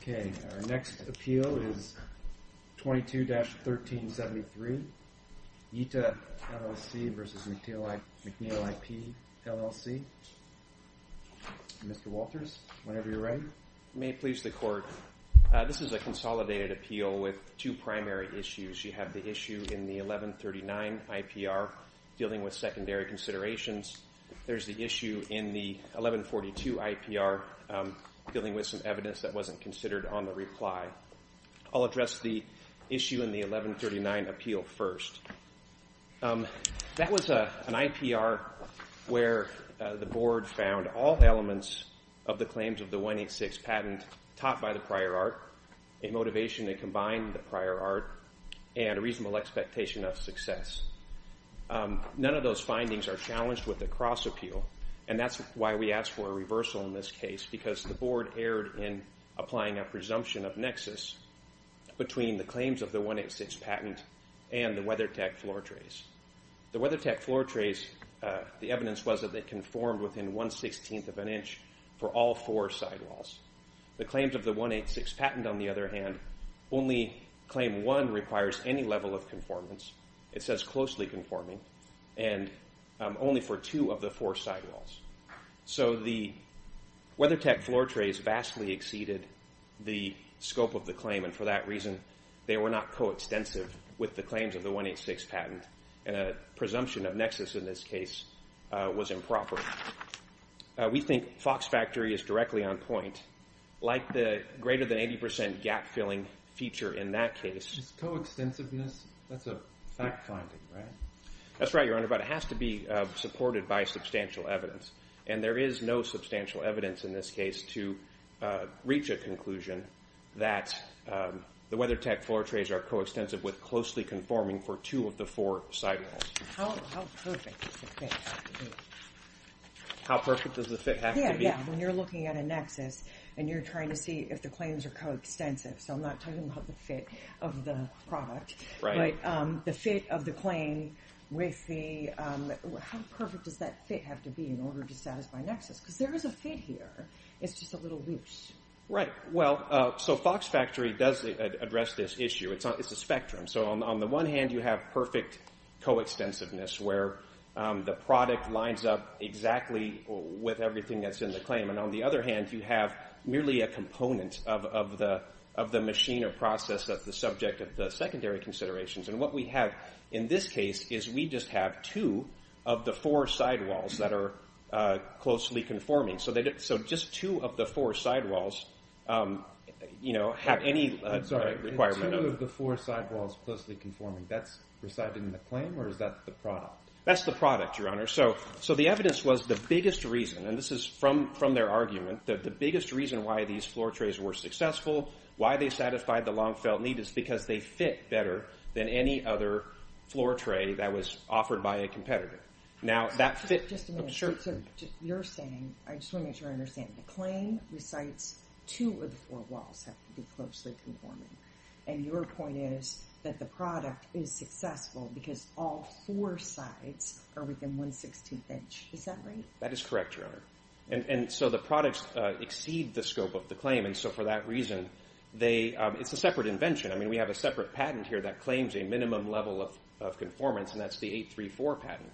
Okay, our next appeal is 22-1373, Yita LLC v. MacNeil IP LLC. Mr. Walters, whenever you're ready. May it please the court, this is a consolidated appeal with two primary issues. You have the issue in the 1139 IPR dealing with secondary considerations. There's the issue in the 1142 IPR dealing with some evidence that wasn't considered on the reply. I'll address the issue in the 1139 appeal first. That was an IPR where the board found all elements of the claims of the 186 patent taught by the prior art, a motivation that combined the prior art, and a reasonable expectation of success. None of those findings are challenged with the cross appeal and that's why we asked for a reversal in this case because the board erred in applying a presumption of nexus between the claims of the 186 patent and the WeatherTech floor trays. The WeatherTech floor trays, the evidence was that they conformed within 1 16th of an inch for all four sidewalls. The claims of the 186 patent on the other hand, only claim one requires any level of conformance. It says closely conforming and only for two of the four sidewalls. So the WeatherTech floor trays vastly exceeded the scope of the claim and for that reason they were not coextensive with the claims of the 186 patent and a presumption of nexus in this case was improper. We think Fox Factory is directly on point like the greater than 80% gap filling feature in that case. Coextensiveness, that's a fact finding, right? That's right, your honor, but it has to be supported by substantial evidence and there is no substantial evidence in this case to reach a conclusion that the WeatherTech floor trays are coextensive with closely conforming for two of the four sidewalls. How perfect does the fit have to be? How perfect does the fit have to be? Yeah, yeah, when you're looking at a nexus and you're trying to see if the claims are coextensive, so I'm not talking about the fit of the product, but the fit of the claim with the, how perfect does that fit have to be in order to satisfy nexus? Because there is a fit here, it's just a little loose. Right, well, so Fox Factory does address this issue, it's a spectrum. So on the one hand, you have perfect coextensiveness where the product lines up exactly with everything that's in the claim and on the other hand, you have merely a component of the machine or process that's the subject of the secondary considerations and what we have in this case is we just have two of the four sidewalls that are closely conforming. So just two of the four sidewalls have any requirement. I'm sorry, two of the four sidewalls closely conforming, that's residing in the claim or is that the product? That's the product, Your Honor. So the evidence was the biggest reason, and this is from their argument, that the biggest reason why these floor trays were successful, why they satisfied the long-felt need, is because they fit better than any other floor tray that was offered by a competitor. Just a minute. Sure. You're saying, I just want to make sure I understand, the claim recites two of the four walls have to be closely conforming and your point is that the product is successful because all four sides are within 1 16th inch. Is that right? That is correct, Your Honor. And so the products exceed the scope of the claim and so for that reason, it's a separate invention. I mean, we have a separate patent here that claims a minimum level of conformance and that's the 834 patent.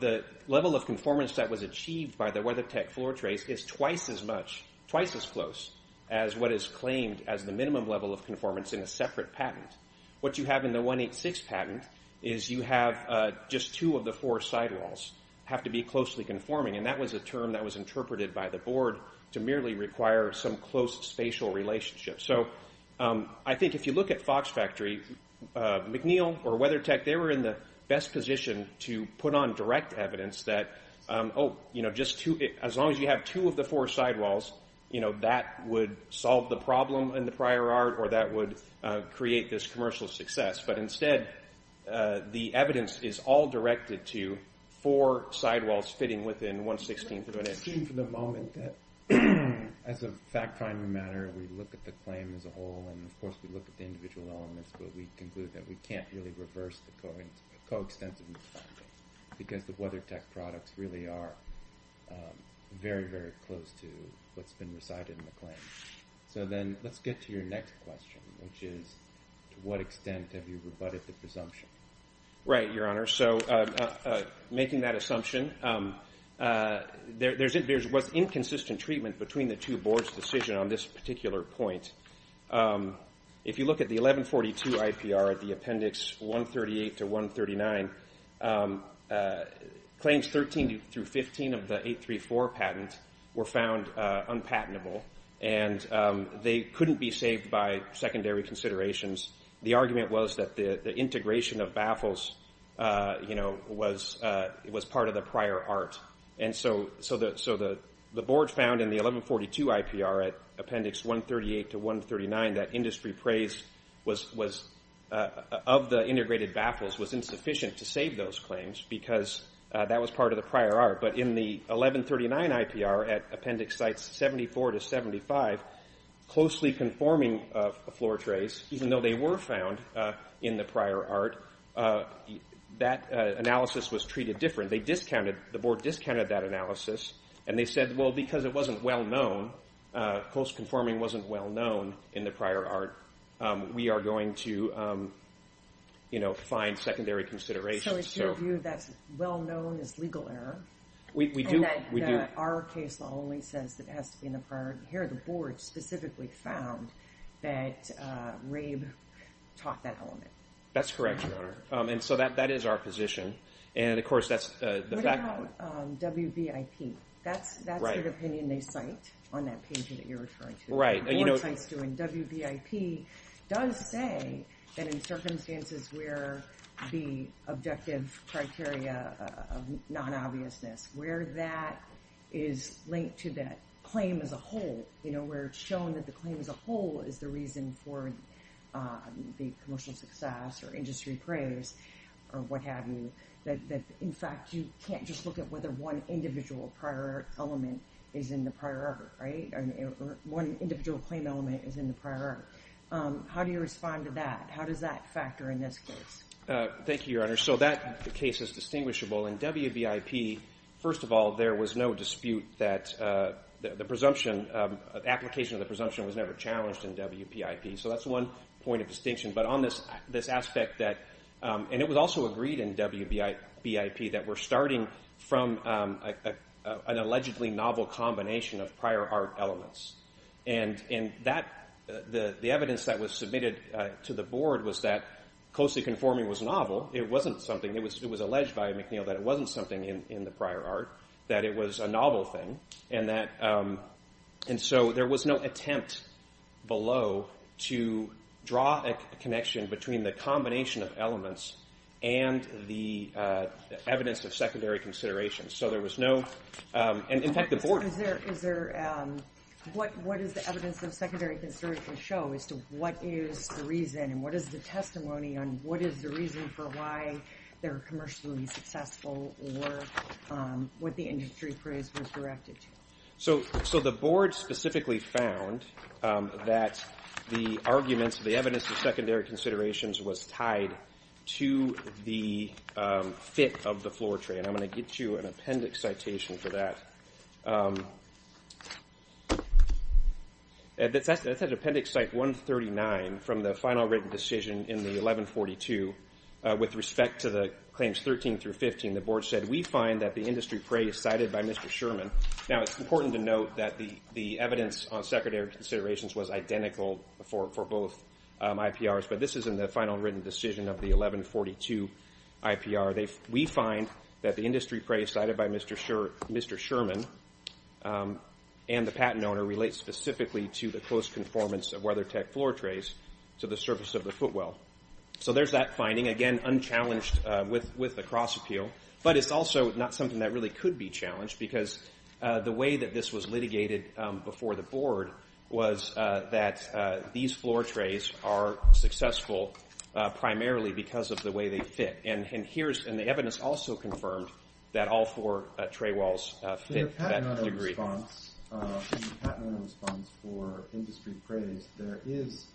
The level of conformance that was achieved by the WeatherTech floor trays is twice as much, twice as close as what is claimed as the minimum level of conformance in a separate patent. What you have in the 186 patent is you have just two of the four sidewalls have to be closely conforming and that was a term that was interpreted by the board to merely require some close spatial relationship. So I think if you look at Fox Factory, McNeil or WeatherTech, they were in the best position to put on direct evidence that, oh, you know, as long as you have two of the four sidewalls, you know, that would solve the problem in the prior art or that would create this commercial success. But instead, the evidence is all directed to four sidewalls fitting within 1 16th of an inch. I assume for the moment that as a fact finding matter, we look at the claim as a whole and of course we look at the individual elements, but we conclude that we can't really reverse the co-extensiveness finding because the WeatherTech products really are very, very close to what's been recited in the claim. So then let's get to your next question, which is to what extent have you rebutted the presumption? Right, Your Honor. So making that assumption, there was inconsistent treatment between the two boards' decision on this particular point. If you look at the 1142 IPR at the appendix 138 to 139, claims 13 through 15 of the 834 patent were found unpatentable and they couldn't be saved by secondary considerations. The argument was that the integration of baffles was part of the prior art. And so the board found in the 1142 IPR at appendix 138 to 139 that industry praise of the integrated baffles was insufficient to save those claims because that was part of the prior art. But in the 1139 IPR at appendix sites 74 to 75, closely conforming floor trays, even though they were found in the prior art, that analysis was treated differently. The board discounted that analysis and they said, well, because it wasn't well-known, close conforming wasn't well-known in the prior art, we are going to find secondary considerations. So it's your view that well-known is legal error? We do. Our case law only says that it has to be in the prior art. Here the board specifically found that rape taught that element. That's correct, Your Honor. And so that is our position. What about WBIP? That's the opinion they cite on that page that you're referring to. Right. WBIP does say that in circumstances where the objective criteria of non-obviousness, where that is linked to that claim as a whole, where it's shown that the claim as a whole is the reason for the commercial success or industry praise or what have you, that in fact you can't just look at whether one individual prior art element is in the prior art. Right? One individual claim element is in the prior art. How do you respond to that? How does that factor in this case? Thank you, Your Honor. So that case is distinguishable. In WBIP, first of all, there was no dispute that the presumption, application of the presumption was never challenged in WBIP. So that's one point of distinction. But on this aspect that, and it was also agreed in WBIP, that we're starting from an allegedly novel combination of prior art elements. And the evidence that was submitted to the board was that closely conforming was novel. It wasn't something. It was alleged by McNeil that it wasn't something in the prior art, that it was a novel thing. And so there was no attempt below to draw a connection between the combination of elements and the evidence of secondary consideration. So there was no, and in fact the board. What does the evidence of secondary consideration show as to what is the reason for why they're commercially successful or what the industry praise was directed to? So the board specifically found that the arguments, the evidence of secondary considerations was tied to the fit of the floor tray. And I'm going to get you an appendix citation for that. That's appendix 139 from the final written decision in the 1142. With respect to the claims 13 through 15, the board said we find that the industry praise cited by Mr. Sherman. Now it's important to note that the evidence on secondary considerations was identical for both IPRs, but this is in the final written decision of the 1142 IPR. We find that the industry praise cited by Mr. Sherman and the patent owner relates specifically to the close conformance of WeatherTech floor trays to the surface of the footwell. So there's that finding, again, unchallenged with the cross appeal. But it's also not something that really could be challenged because the way that this was litigated before the board was that these floor trays are successful primarily because of the way they fit. And the evidence also confirmed that all four tray walls fit that degree. In the patent owner response for industry praise, there is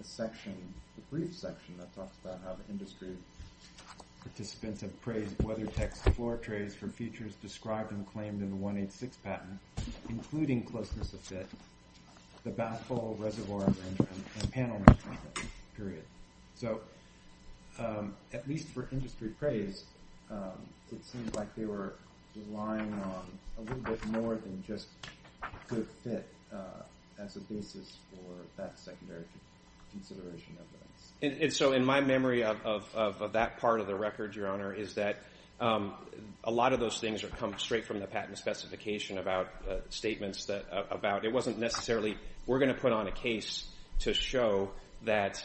a section, a brief section that talks about how the industry participants have praised WeatherTech's floor trays for features described and claimed in the 186 patent, including closeness of fit, the bath bowl, reservoir, and panel. So at least for industry praise, it seems like they were relying on a little bit more than just good fit as a basis for that secondary consideration evidence. And so in my memory of that part of the record, Your Honor, is that a lot of those things come straight from the patent specification about statements about it wasn't necessarily we're going to put on a case to show that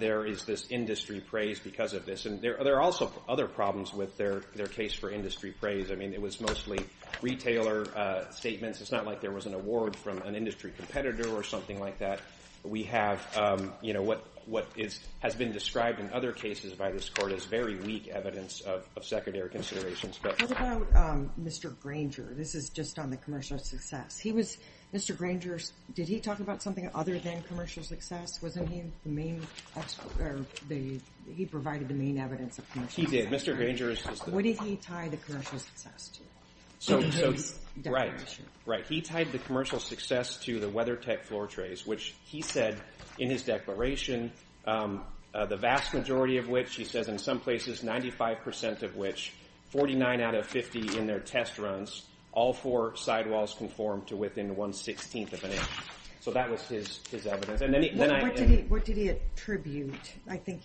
there is this industry praise because of this. And there are also other problems with their case for industry praise. I mean, it was mostly retailer statements. It's not like there was an award from an industry competitor or something like that. We have what has been described in other cases by this court as very weak evidence of secondary considerations. What about Mr. Granger? This is just on the commercial success. Mr. Granger, did he talk about something other than commercial success? Wasn't he the main expert? He provided the main evidence of commercial success. He did. Mr. Granger is just the one. What did he tie the commercial success to in his declaration? Right. He tied the commercial success to the WeatherTech floor trays, which he said in his declaration, the vast majority of which he says in some places, 95 percent of which, 49 out of 50 in their test runs, all four sidewalls conform to within one-sixteenth of an inch. So that was his evidence. What did he attribute? I think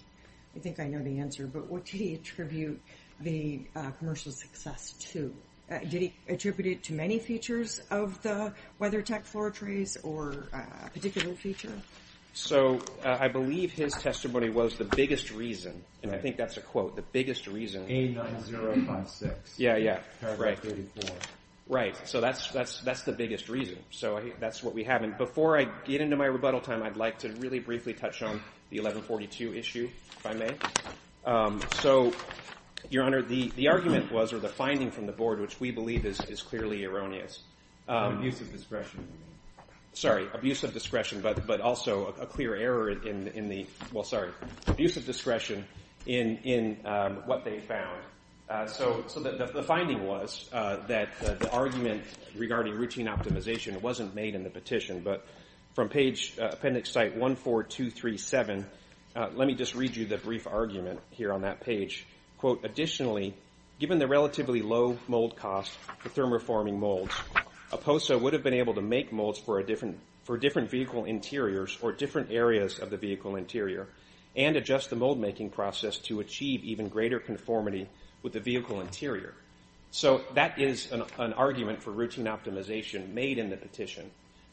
I know the answer, but what did he attribute the commercial success to? Did he attribute it to many features of the WeatherTech floor trays or a particular feature? So I believe his testimony was the biggest reason, and I think that's a quote, the biggest reason. 89056. Yeah, yeah. Paragraph 34. Right. So that's the biggest reason. So that's what we have. And before I get into my rebuttal time, I'd like to really briefly touch on the 1142 issue if I may. So, Your Honor, the argument was, or the finding from the Board, which we believe is clearly erroneous. Abuse of discretion. Sorry, abuse of discretion, but also a clear error in the—well, sorry. Abuse of discretion in what they found. So the finding was that the argument regarding routine optimization wasn't made in the petition, but from page appendix site 14237, let me just read you the brief argument here on that page. Quote, additionally, given the relatively low mold cost for thermoforming molds, a POSA would have been able to make molds for different vehicle interiors or different areas of the vehicle interior and adjust the mold-making process to achieve even greater conformity with the vehicle interior. So that is an argument for routine optimization made in the petition.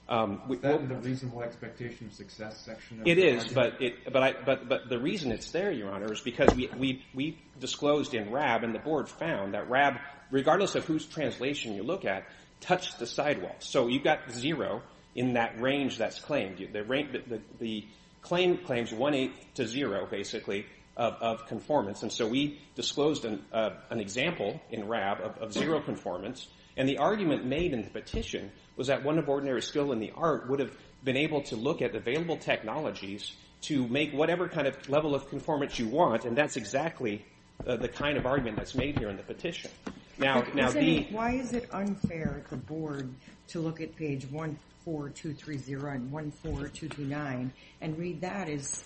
Is that in the reasonable expectation success section? It is, but the reason it's there, Your Honor, is because we disclosed in RAB, and the Board found that RAB, regardless of whose translation you look at, touched the sidewalk. So you've got zero in that range that's claimed. The claim claims one-eighth to zero, basically, of conformance, and so we disclosed an example in RAB of zero conformance, and the argument made in the petition was that one of ordinary skill in the art would have been able to look at available technologies to make whatever kind of level of conformance you want, and that's exactly the kind of argument that's made here in the petition. Why is it unfair at the Board to look at page 14230 and 14229 and read that as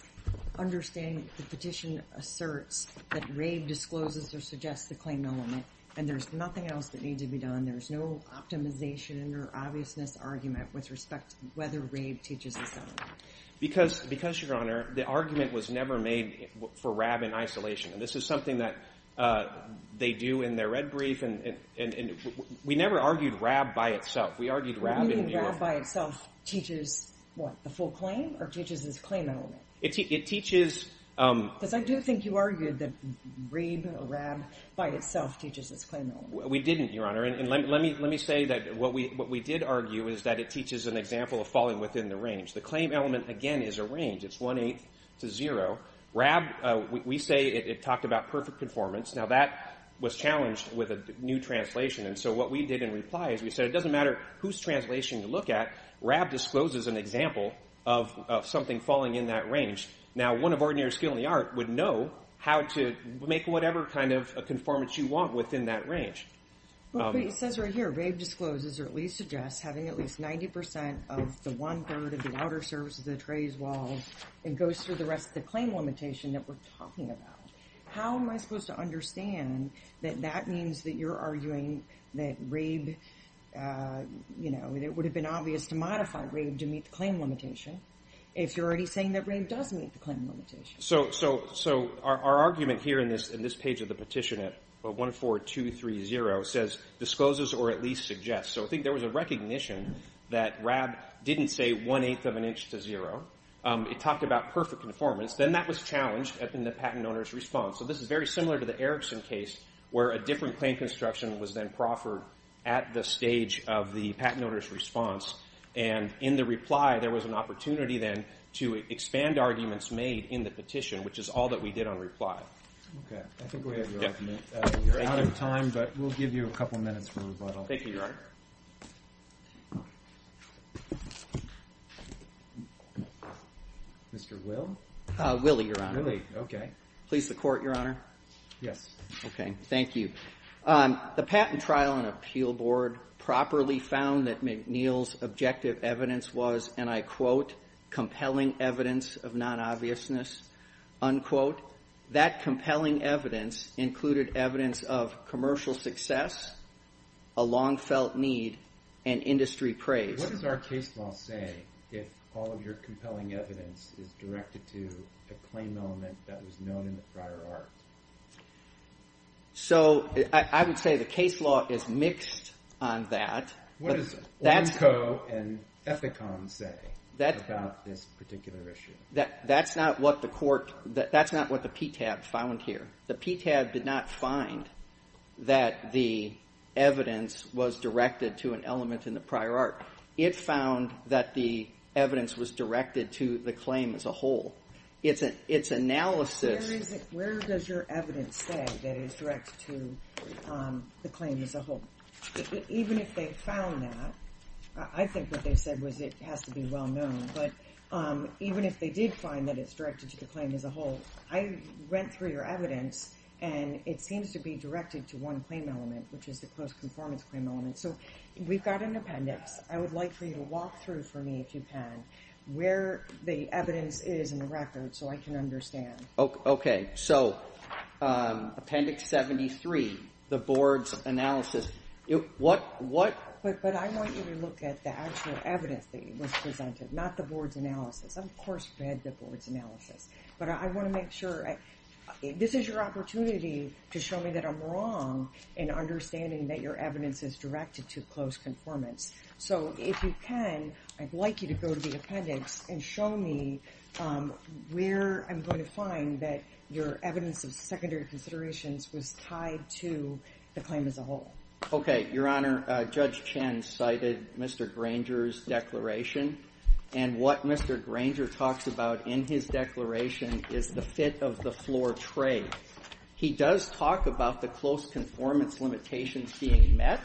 understanding the petition asserts that RAB discloses or suggests the claimed element, and there's nothing else that needs to be done? There's no optimization or obviousness argument with respect to whether RAB teaches this element? Because, Your Honor, the argument was never made for RAB in isolation, and this is something that they do in their red brief, and we never argued RAB by itself. We argued RAB in New York. You mean RAB by itself teaches, what, the full claim or teaches its claim element? It teaches— Because I do think you argued that read RAB by itself teaches its claim element. We didn't, Your Honor, and let me say that what we did argue is that it teaches an example of falling within the range. The claim element, again, is a range. It's one-eighth to zero. RAB, we say it talked about perfect conformance. Now, that was challenged with a new translation, and so what we did in reply is we said it doesn't matter whose translation you look at. RAB discloses an example of something falling in that range. Now, one of ordinary skill in the art would know how to make whatever kind of conformance you want within that range. Well, but it says right here RAB discloses or at least suggests having at least 90 percent of the one-third of the outer surface of the trade's walls and goes through the rest of the claim limitation that we're talking about. How am I supposed to understand that that means that you're arguing that RAB, you know, that it would have been obvious to modify RAB to meet the claim limitation if you're already saying that RAB does meet the claim limitation? So our argument here in this page of the petition at 14230 says discloses or at least suggests. So I think there was a recognition that RAB didn't say one-eighth of an inch to zero. It talked about perfect conformance. Then that was challenged in the patent owner's response. So this is very similar to the Erickson case where a different claim construction was then proffered at the stage of the patent owner's response, and in the reply there was an opportunity then to expand arguments made in the petition, which is all that we did on reply. Okay. I think we have your argument. You're out of time, but we'll give you a couple minutes for rebuttal. Thank you, Your Honor. Mr. Will? Willie, Your Honor. Willie. Okay. Please, the Court, Your Honor. Yes. Okay. Thank you. The patent trial and appeal board properly found that McNeil's objective evidence was, and I quote, compelling evidence of non-obviousness, unquote. That compelling evidence included evidence of commercial success, a long-felt need, and industry praise. What does our case law say if all of your compelling evidence is directed to a claim element that was known in the prior art? So I would say the case law is mixed on that. What does Ornco and Ethicom say about this particular issue? That's not what the court, that's not what the PTAB found here. The PTAB did not find that the evidence was directed to an element in the prior art. It found that the evidence was directed to the claim as a whole. Its analysis... Where does your evidence say that it is directed to the claim as a whole? Even if they found that, I think what they said was it has to be well-known. But even if they did find that it's directed to the claim as a whole, I went through your evidence, and it seems to be directed to one claim element, which is the post-conformance claim element. So we've got an appendix. I would like for you to walk through for me, if you can, where the evidence is in the record so I can understand. Okay. So, Appendix 73, the board's analysis. What... But I want you to look at the actual evidence that was presented, not the board's analysis. Of course we had the board's analysis. But I want to make sure... This is your opportunity to show me that I'm wrong in understanding that your evidence is directed to close conformance. So, if you can, I'd like you to go to the appendix and show me where I'm going to find that your evidence of secondary considerations was tied to the claim as a whole. Okay. Your Honor, Judge Chen cited Mr. Granger's declaration. And what Mr. Granger talks about in his declaration is the fit-of-the-floor trade. He does talk about the close conformance limitations being met.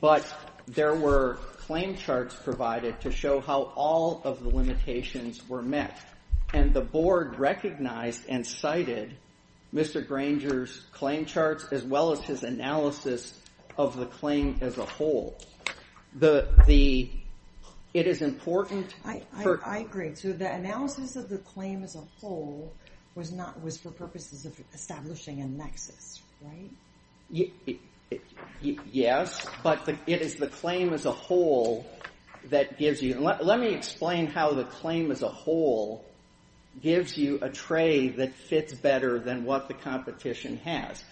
But there were claim charts provided to show how all of the limitations were met. And the board recognized and cited Mr. Granger's claim charts as well as his analysis of the claim as a whole. The... It is important... I agree. So the analysis of the claim as a whole was for purposes of establishing a nexus, right? Yes. But it is the claim as a whole that gives you... Let me explain how the claim as a whole gives you a trade that fits better than what the competition has.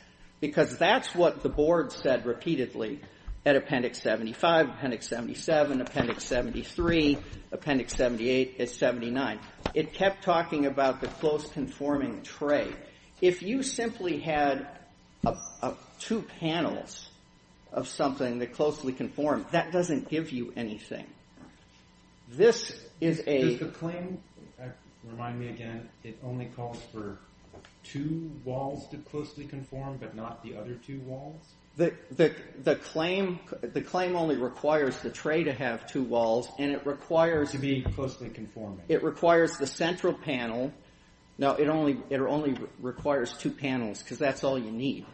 Because that's what the board said repeatedly at Appendix 75, Appendix 77, Appendix 73, Appendix 78, and 79. It kept talking about the close conforming trade. If you simply had two panels of something that closely conformed, that doesn't give you anything. This is a... The claim only requires the trade to have two walls, and it requires... To be closely conforming. It requires the central panel. Now, it only requires two panels because that's all you need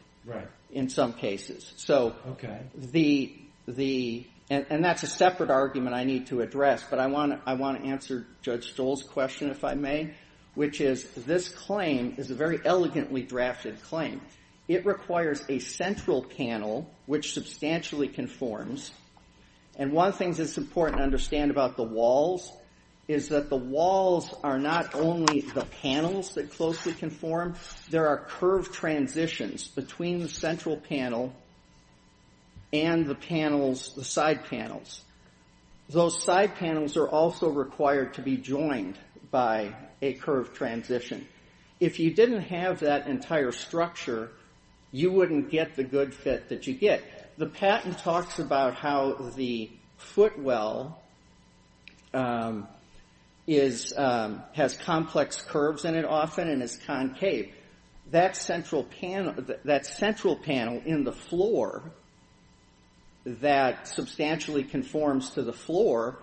in some cases. And that's a separate argument I need to address, but I want to answer Judge Stoll's question, if I may, which is this claim is a very elegantly drafted claim. It requires a central panel, which substantially conforms. And one of the things that's important to understand about the walls is that the walls are not only the panels that closely conform. There are curved transitions between the central panel and the panels, the side panels. Those side panels are also required to be joined by a curved transition. If you didn't have that entire structure, you wouldn't get the good fit that you get. The patent talks about how the footwell has complex curves in it often and is concave. That central panel in the floor that substantially conforms to the floor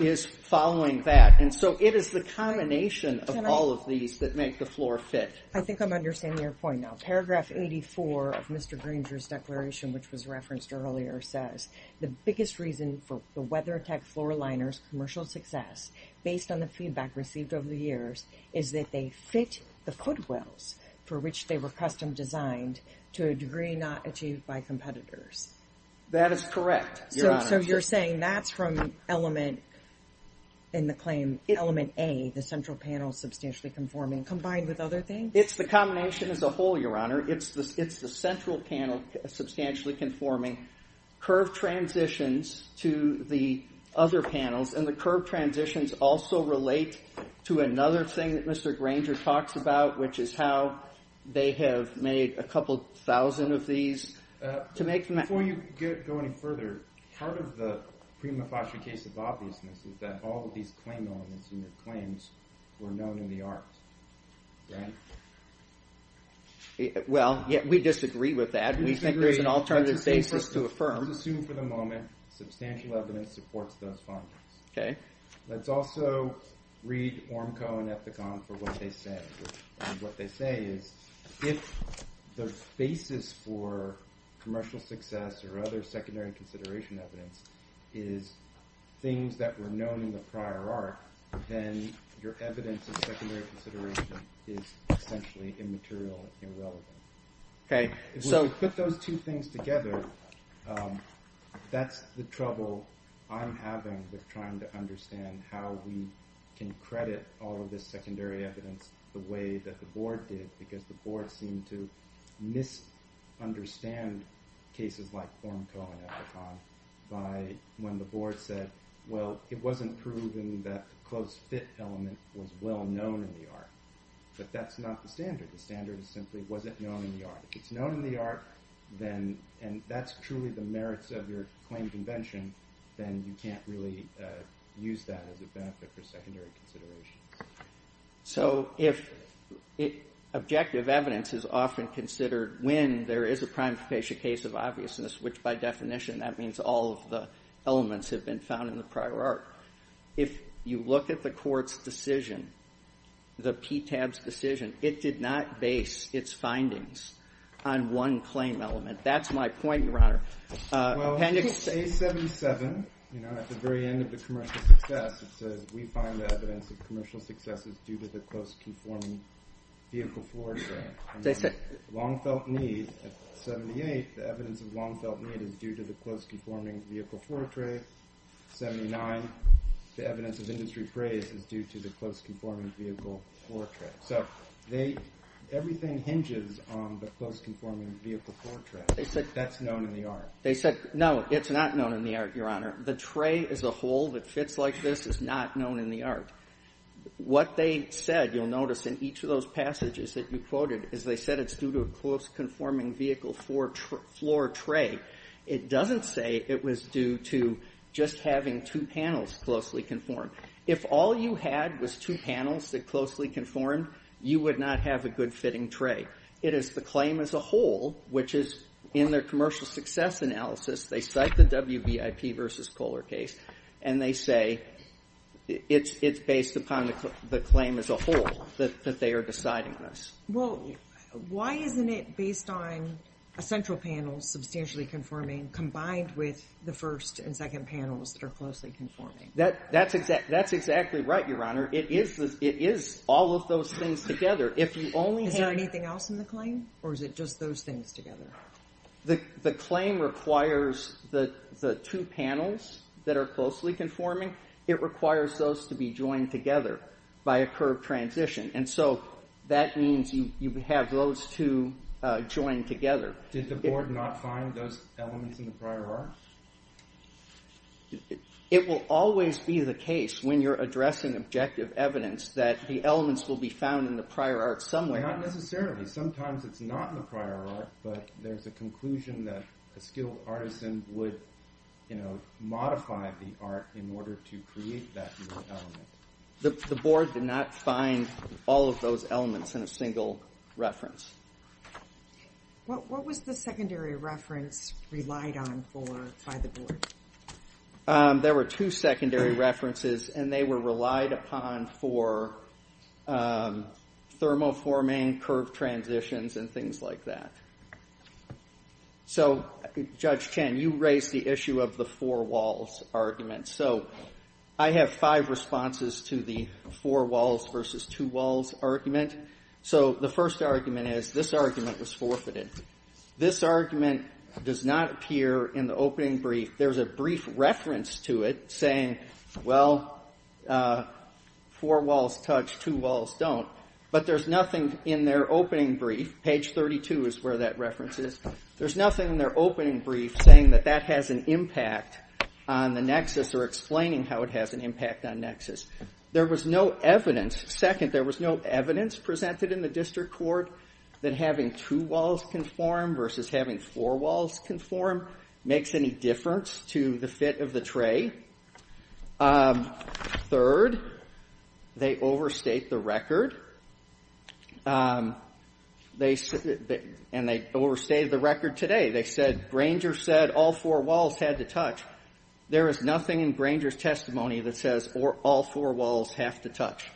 is following that. And so it is the combination of all of these that make the floor fit. I think I'm understanding your point now. Paragraph 84 of Mr. Granger's declaration, which was referenced earlier, says, The biggest reason for the WeatherTech floor liners' commercial success, based on the feedback received over the years, is that they fit the footwells for which they were custom designed to a degree not achieved by competitors. That is correct, Your Honor. So you're saying that's from element A, the central panel substantially conforming, combined with other things? It's the combination as a whole, Your Honor. It's the central panel substantially conforming. Curved transitions to the other panels. And the curved transitions also relate to another thing that Mr. Granger talks about, which is how they have made a couple thousand of these. Before you go any further, part of the prima facie case of obviousness is that all of these claim elements and their claims were known in the arts, right? Well, we disagree with that. We think there's an alternative basis to affirm. Let's assume for the moment substantial evidence supports those findings. Let's also read Ormco and Ethicon for what they say. If the basis for commercial success or other secondary consideration evidence is things that were known in the prior art, then your evidence of secondary consideration is essentially immaterial and irrelevant. If we put those two things together, that's the trouble I'm having with trying to understand how we can credit all of this secondary evidence the way that the Board did, because the Board seemed to misunderstand cases like Ormco and Ethicon by when the Board said, well, it wasn't proven that the close fit element was well known in the art. But that's not the standard. The standard is simply, was it known in the art? If it's known in the art, and that's truly the merits of your claim convention, then you can't really use that as a benefit for secondary considerations. So if objective evidence is often considered when there is a prime capacious case of obviousness, which by definition that means all of the elements have been found in the prior art. If you look at the court's decision, the PTAB's decision, it did not base its findings on one claim element. That's my point, Your Honor. Well, in page 77, at the very end of the commercial success, it says, we find the evidence of commercial success is due to the close conforming vehicle portrait. Long felt need, 78, the evidence of long felt need is due to the close conforming vehicle portrait. 79, the evidence of industry praise is due to the close conforming vehicle portrait. So everything hinges on the close conforming vehicle portrait. That's known in the art. They said, no, it's not known in the art, Your Honor. The tray as a whole that fits like this is not known in the art. What they said, you'll notice in each of those passages that you quoted, is they said it's due to a close conforming vehicle floor tray. It doesn't say it was due to just having two panels closely conformed. If all you had was two panels that closely conformed, you would not have a good fitting tray. It is the claim as a whole, which is in their commercial success analysis, they cite the WVIP versus Kohler case, and they say it's based upon the claim as a whole that they are deciding this. Well, why isn't it based on a central panel substantially conforming combined with the first and second panels that are closely conforming? That's exactly right, Your Honor. It is all of those things together. Is there anything else in the claim, or is it just those things together? The claim requires the two panels that are closely conforming. It requires those to be joined together by a curved transition, and so that means you have those two joined together. Did the board not find those elements in the prior art? It will always be the case when you're addressing objective evidence that the elements will be found in the prior art somewhere. Not necessarily. Sometimes it's not in the prior art, but there's a conclusion that a skilled artisan would modify the art in order to create that new element. The board did not find all of those elements in a single reference. What was the secondary reference relied on for by the board? There were two secondary references, and they were relied upon for thermoforming, curved transitions, and things like that. So, Judge Chen, you raised the issue of the four walls argument, so I have five responses to the four walls versus two walls argument. So the first argument is this argument was forfeited. This argument does not appear in the opening brief. There's a brief reference to it saying, well, four walls touch, two walls don't. But there's nothing in their opening brief, page 32 is where that reference is, there's nothing in their opening brief saying that that has an impact on the nexus or explaining how it has an impact on nexus. There was no evidence. Second, there was no evidence presented in the district court that having two walls conform versus having four walls conform makes any difference to the fit of the tray. Third, they overstate the record, and they overstated the record today. They said Granger said all four walls had to touch. There is nothing in Granger's testimony that says all four walls have to touch.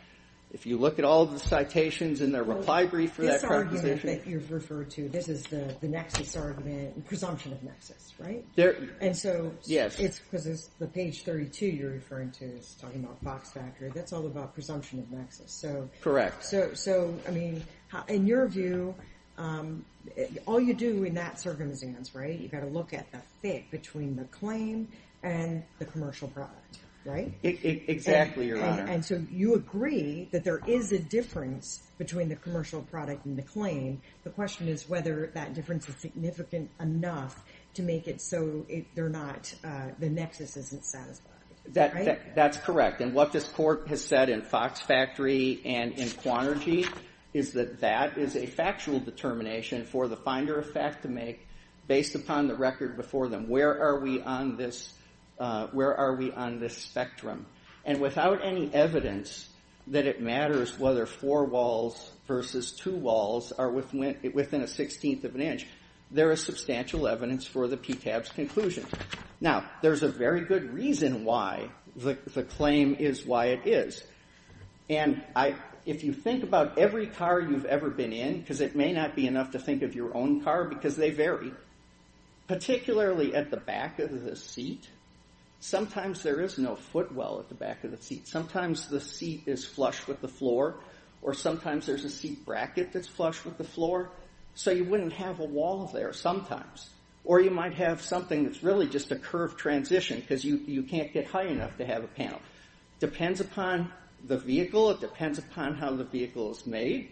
If you look at all the citations in their reply brief for that proposition. This argument that you've referred to, this is the nexus argument, presumption of nexus, right? Yes. Because the page 32 you're referring to is talking about Fox Factory, that's all about presumption of nexus. Correct. So, I mean, in your view, all you do in that circumstance, right, you've got to look at the fit between the claim and the commercial product, right? Exactly, Your Honor. And so you agree that there is a difference between the commercial product and the claim. The question is whether that difference is significant enough to make it so they're not, the nexus isn't satisfied, right? That's correct. And what this court has said in Fox Factory and in Quanergy is that that is a factual determination for the finder of fact to make based upon the record before them. Where are we on this spectrum? And without any evidence that it matters whether four walls versus two walls are within a sixteenth of an inch, there is substantial evidence for the PTAB's conclusion. Now, there's a very good reason why the claim is why it is. And if you think about every car you've ever been in, because it may not be enough to think of your own car because they vary, particularly at the back of the seat. Sometimes there is no footwell at the back of the seat. Sometimes the seat is flush with the floor, or sometimes there's a seat bracket that's flush with the floor, so you wouldn't have a wall there sometimes. Or you might have something that's really just a curved transition because you can't get high enough to have a panel. Depends upon the vehicle. It depends upon how the vehicle is made.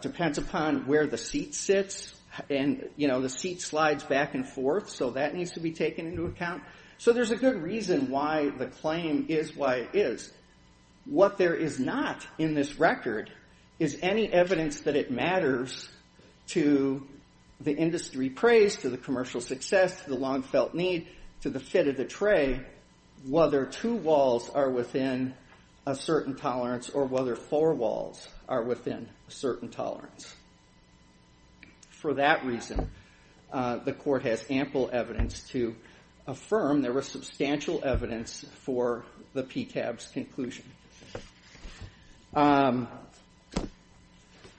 Depends upon where the seat sits. And, you know, the seat slides back and forth, so that needs to be taken into account. So there's a good reason why the claim is why it is. What there is not in this record is any evidence that it matters to the industry praise, to the commercial success, to the long-felt need, to the fit of the tray, whether two walls are within a certain tolerance or whether four walls are within a certain tolerance. For that reason, the court has ample evidence to affirm there was substantial evidence for the PTAB's conclusion.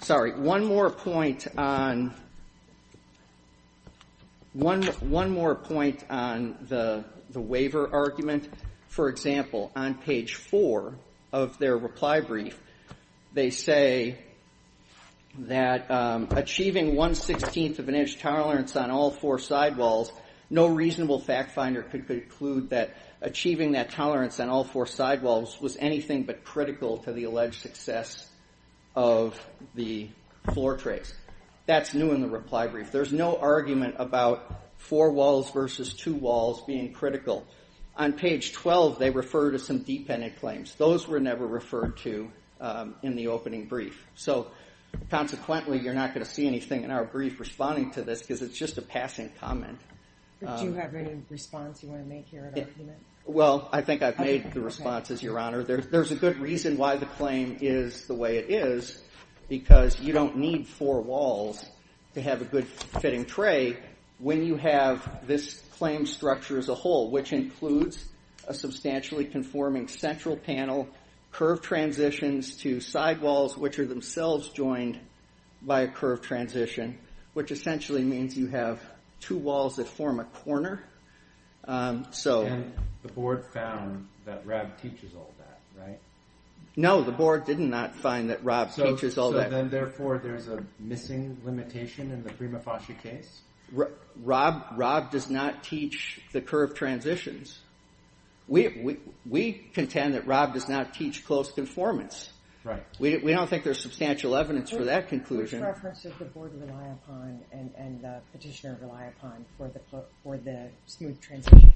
Sorry, one more point on the waiver argument. For example, on page four of their reply brief, they say that achieving one-sixteenth of an inch tolerance on all four sidewalls, no reasonable fact finder could conclude that achieving that tolerance on all four sidewalls was anything but critical to the alleged success of the floor trays. That's new in the reply brief. There's no argument about four walls versus two walls being critical. On page 12, they refer to some deep-ended claims. Those were never referred to in the opening brief. So consequently, you're not going to see anything in our brief responding to this because it's just a passing comment. Do you have any response you want to make here at argument? Well, I think I've made the responses, Your Honor. There's a good reason why the claim is the way it is because you don't need four walls to have a good-fitting tray when you have this claim structure as a whole, which includes a substantially conforming central panel, curved transitions to sidewalls, which are themselves joined by a curved transition, which essentially means you have two walls that form a corner. And the board found that Rob teaches all that, right? No, the board did not find that Rob teaches all that. So then, therefore, there's a missing limitation in the Prima Fasci case? Rob does not teach the curved transitions. We contend that Rob does not teach close conformance. We don't think there's substantial evidence for that conclusion. Which reference does the board rely upon and the petitioner rely upon for the smooth transition?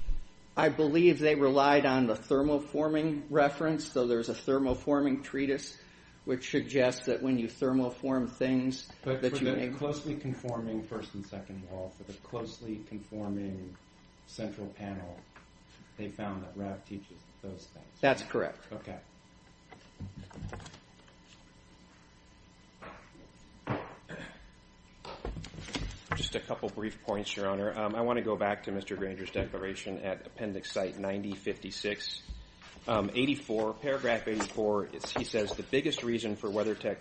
I believe they relied on the thermoforming reference, so there's a thermoforming treatise, which suggests that when you thermoform things that you may... for the closely conforming central panel, they found that Rob teaches those things. That's correct. Okay. Just a couple brief points, Your Honor. I want to go back to Mr. Granger's declaration at Appendix Site 9056. Paragraph 84, he says, the biggest reason for WeatherTech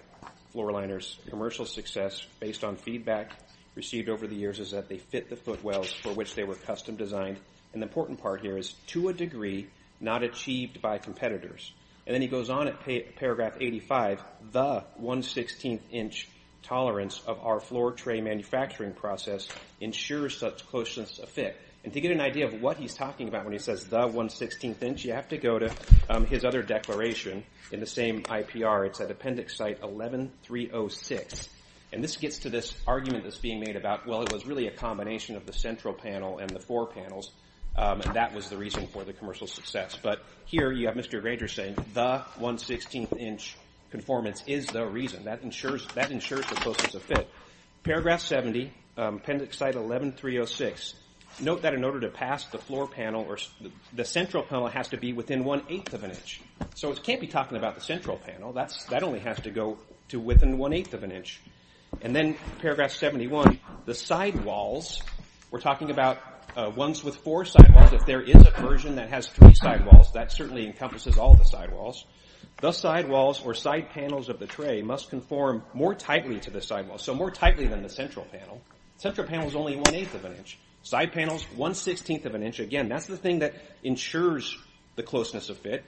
Floor Liner's commercial success based on feedback received over the years is that they fit the footwells for which they were custom designed. And the important part here is, to a degree, not achieved by competitors. And then he goes on at Paragraph 85, the 1 16th inch tolerance of our floor tray manufacturing process ensures such closeness of fit. And to get an idea of what he's talking about when he says the 1 16th inch, you have to go to his other declaration in the same IPR. It's at Appendix Site 11306. And this gets to this argument that's being made about, well, it was really a combination of the central panel and the floor panels, and that was the reason for the commercial success. But here you have Mr. Granger saying, the 1 16th inch conformance is the reason. That ensures the closeness of fit. Paragraph 70, Appendix Site 11306, note that in order to pass the floor panel or the central panel has to be within 1 8th of an inch. So it can't be talking about the central panel. That only has to go to within 1 8th of an inch. And then Paragraph 71, the sidewalls, we're talking about ones with four sidewalls. If there is a version that has three sidewalls, that certainly encompasses all the sidewalls. The sidewalls or side panels of the tray must conform more tightly to the sidewalls, so more tightly than the central panel. Central panel is only 1 8th of an inch. Side panels, 1 16th of an inch. Again, that's the thing that ensures the closeness of fit.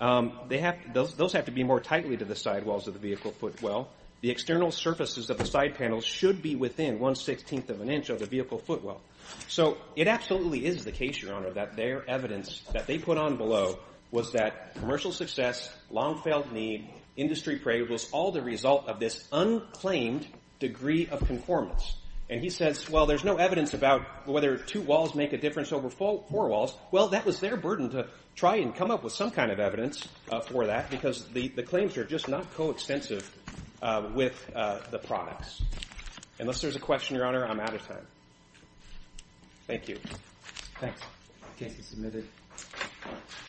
Those have to be more tightly to the sidewalls of the vehicle footwell. The external surfaces of the side panels should be within 1 16th of an inch of the vehicle footwell. So it absolutely is the case, Your Honor, that their evidence that they put on below was that commercial success, long-failed need, industry prairie was all the result of this unclaimed degree of conformance. And he says, well, there's no evidence about whether two walls make a difference over four walls. Well, that was their burden to try and come up with some kind of evidence for that because the claims are just not coextensive with the products. Unless there's a question, Your Honor, I'm out of time. Thank you. Thanks. Case is submitted.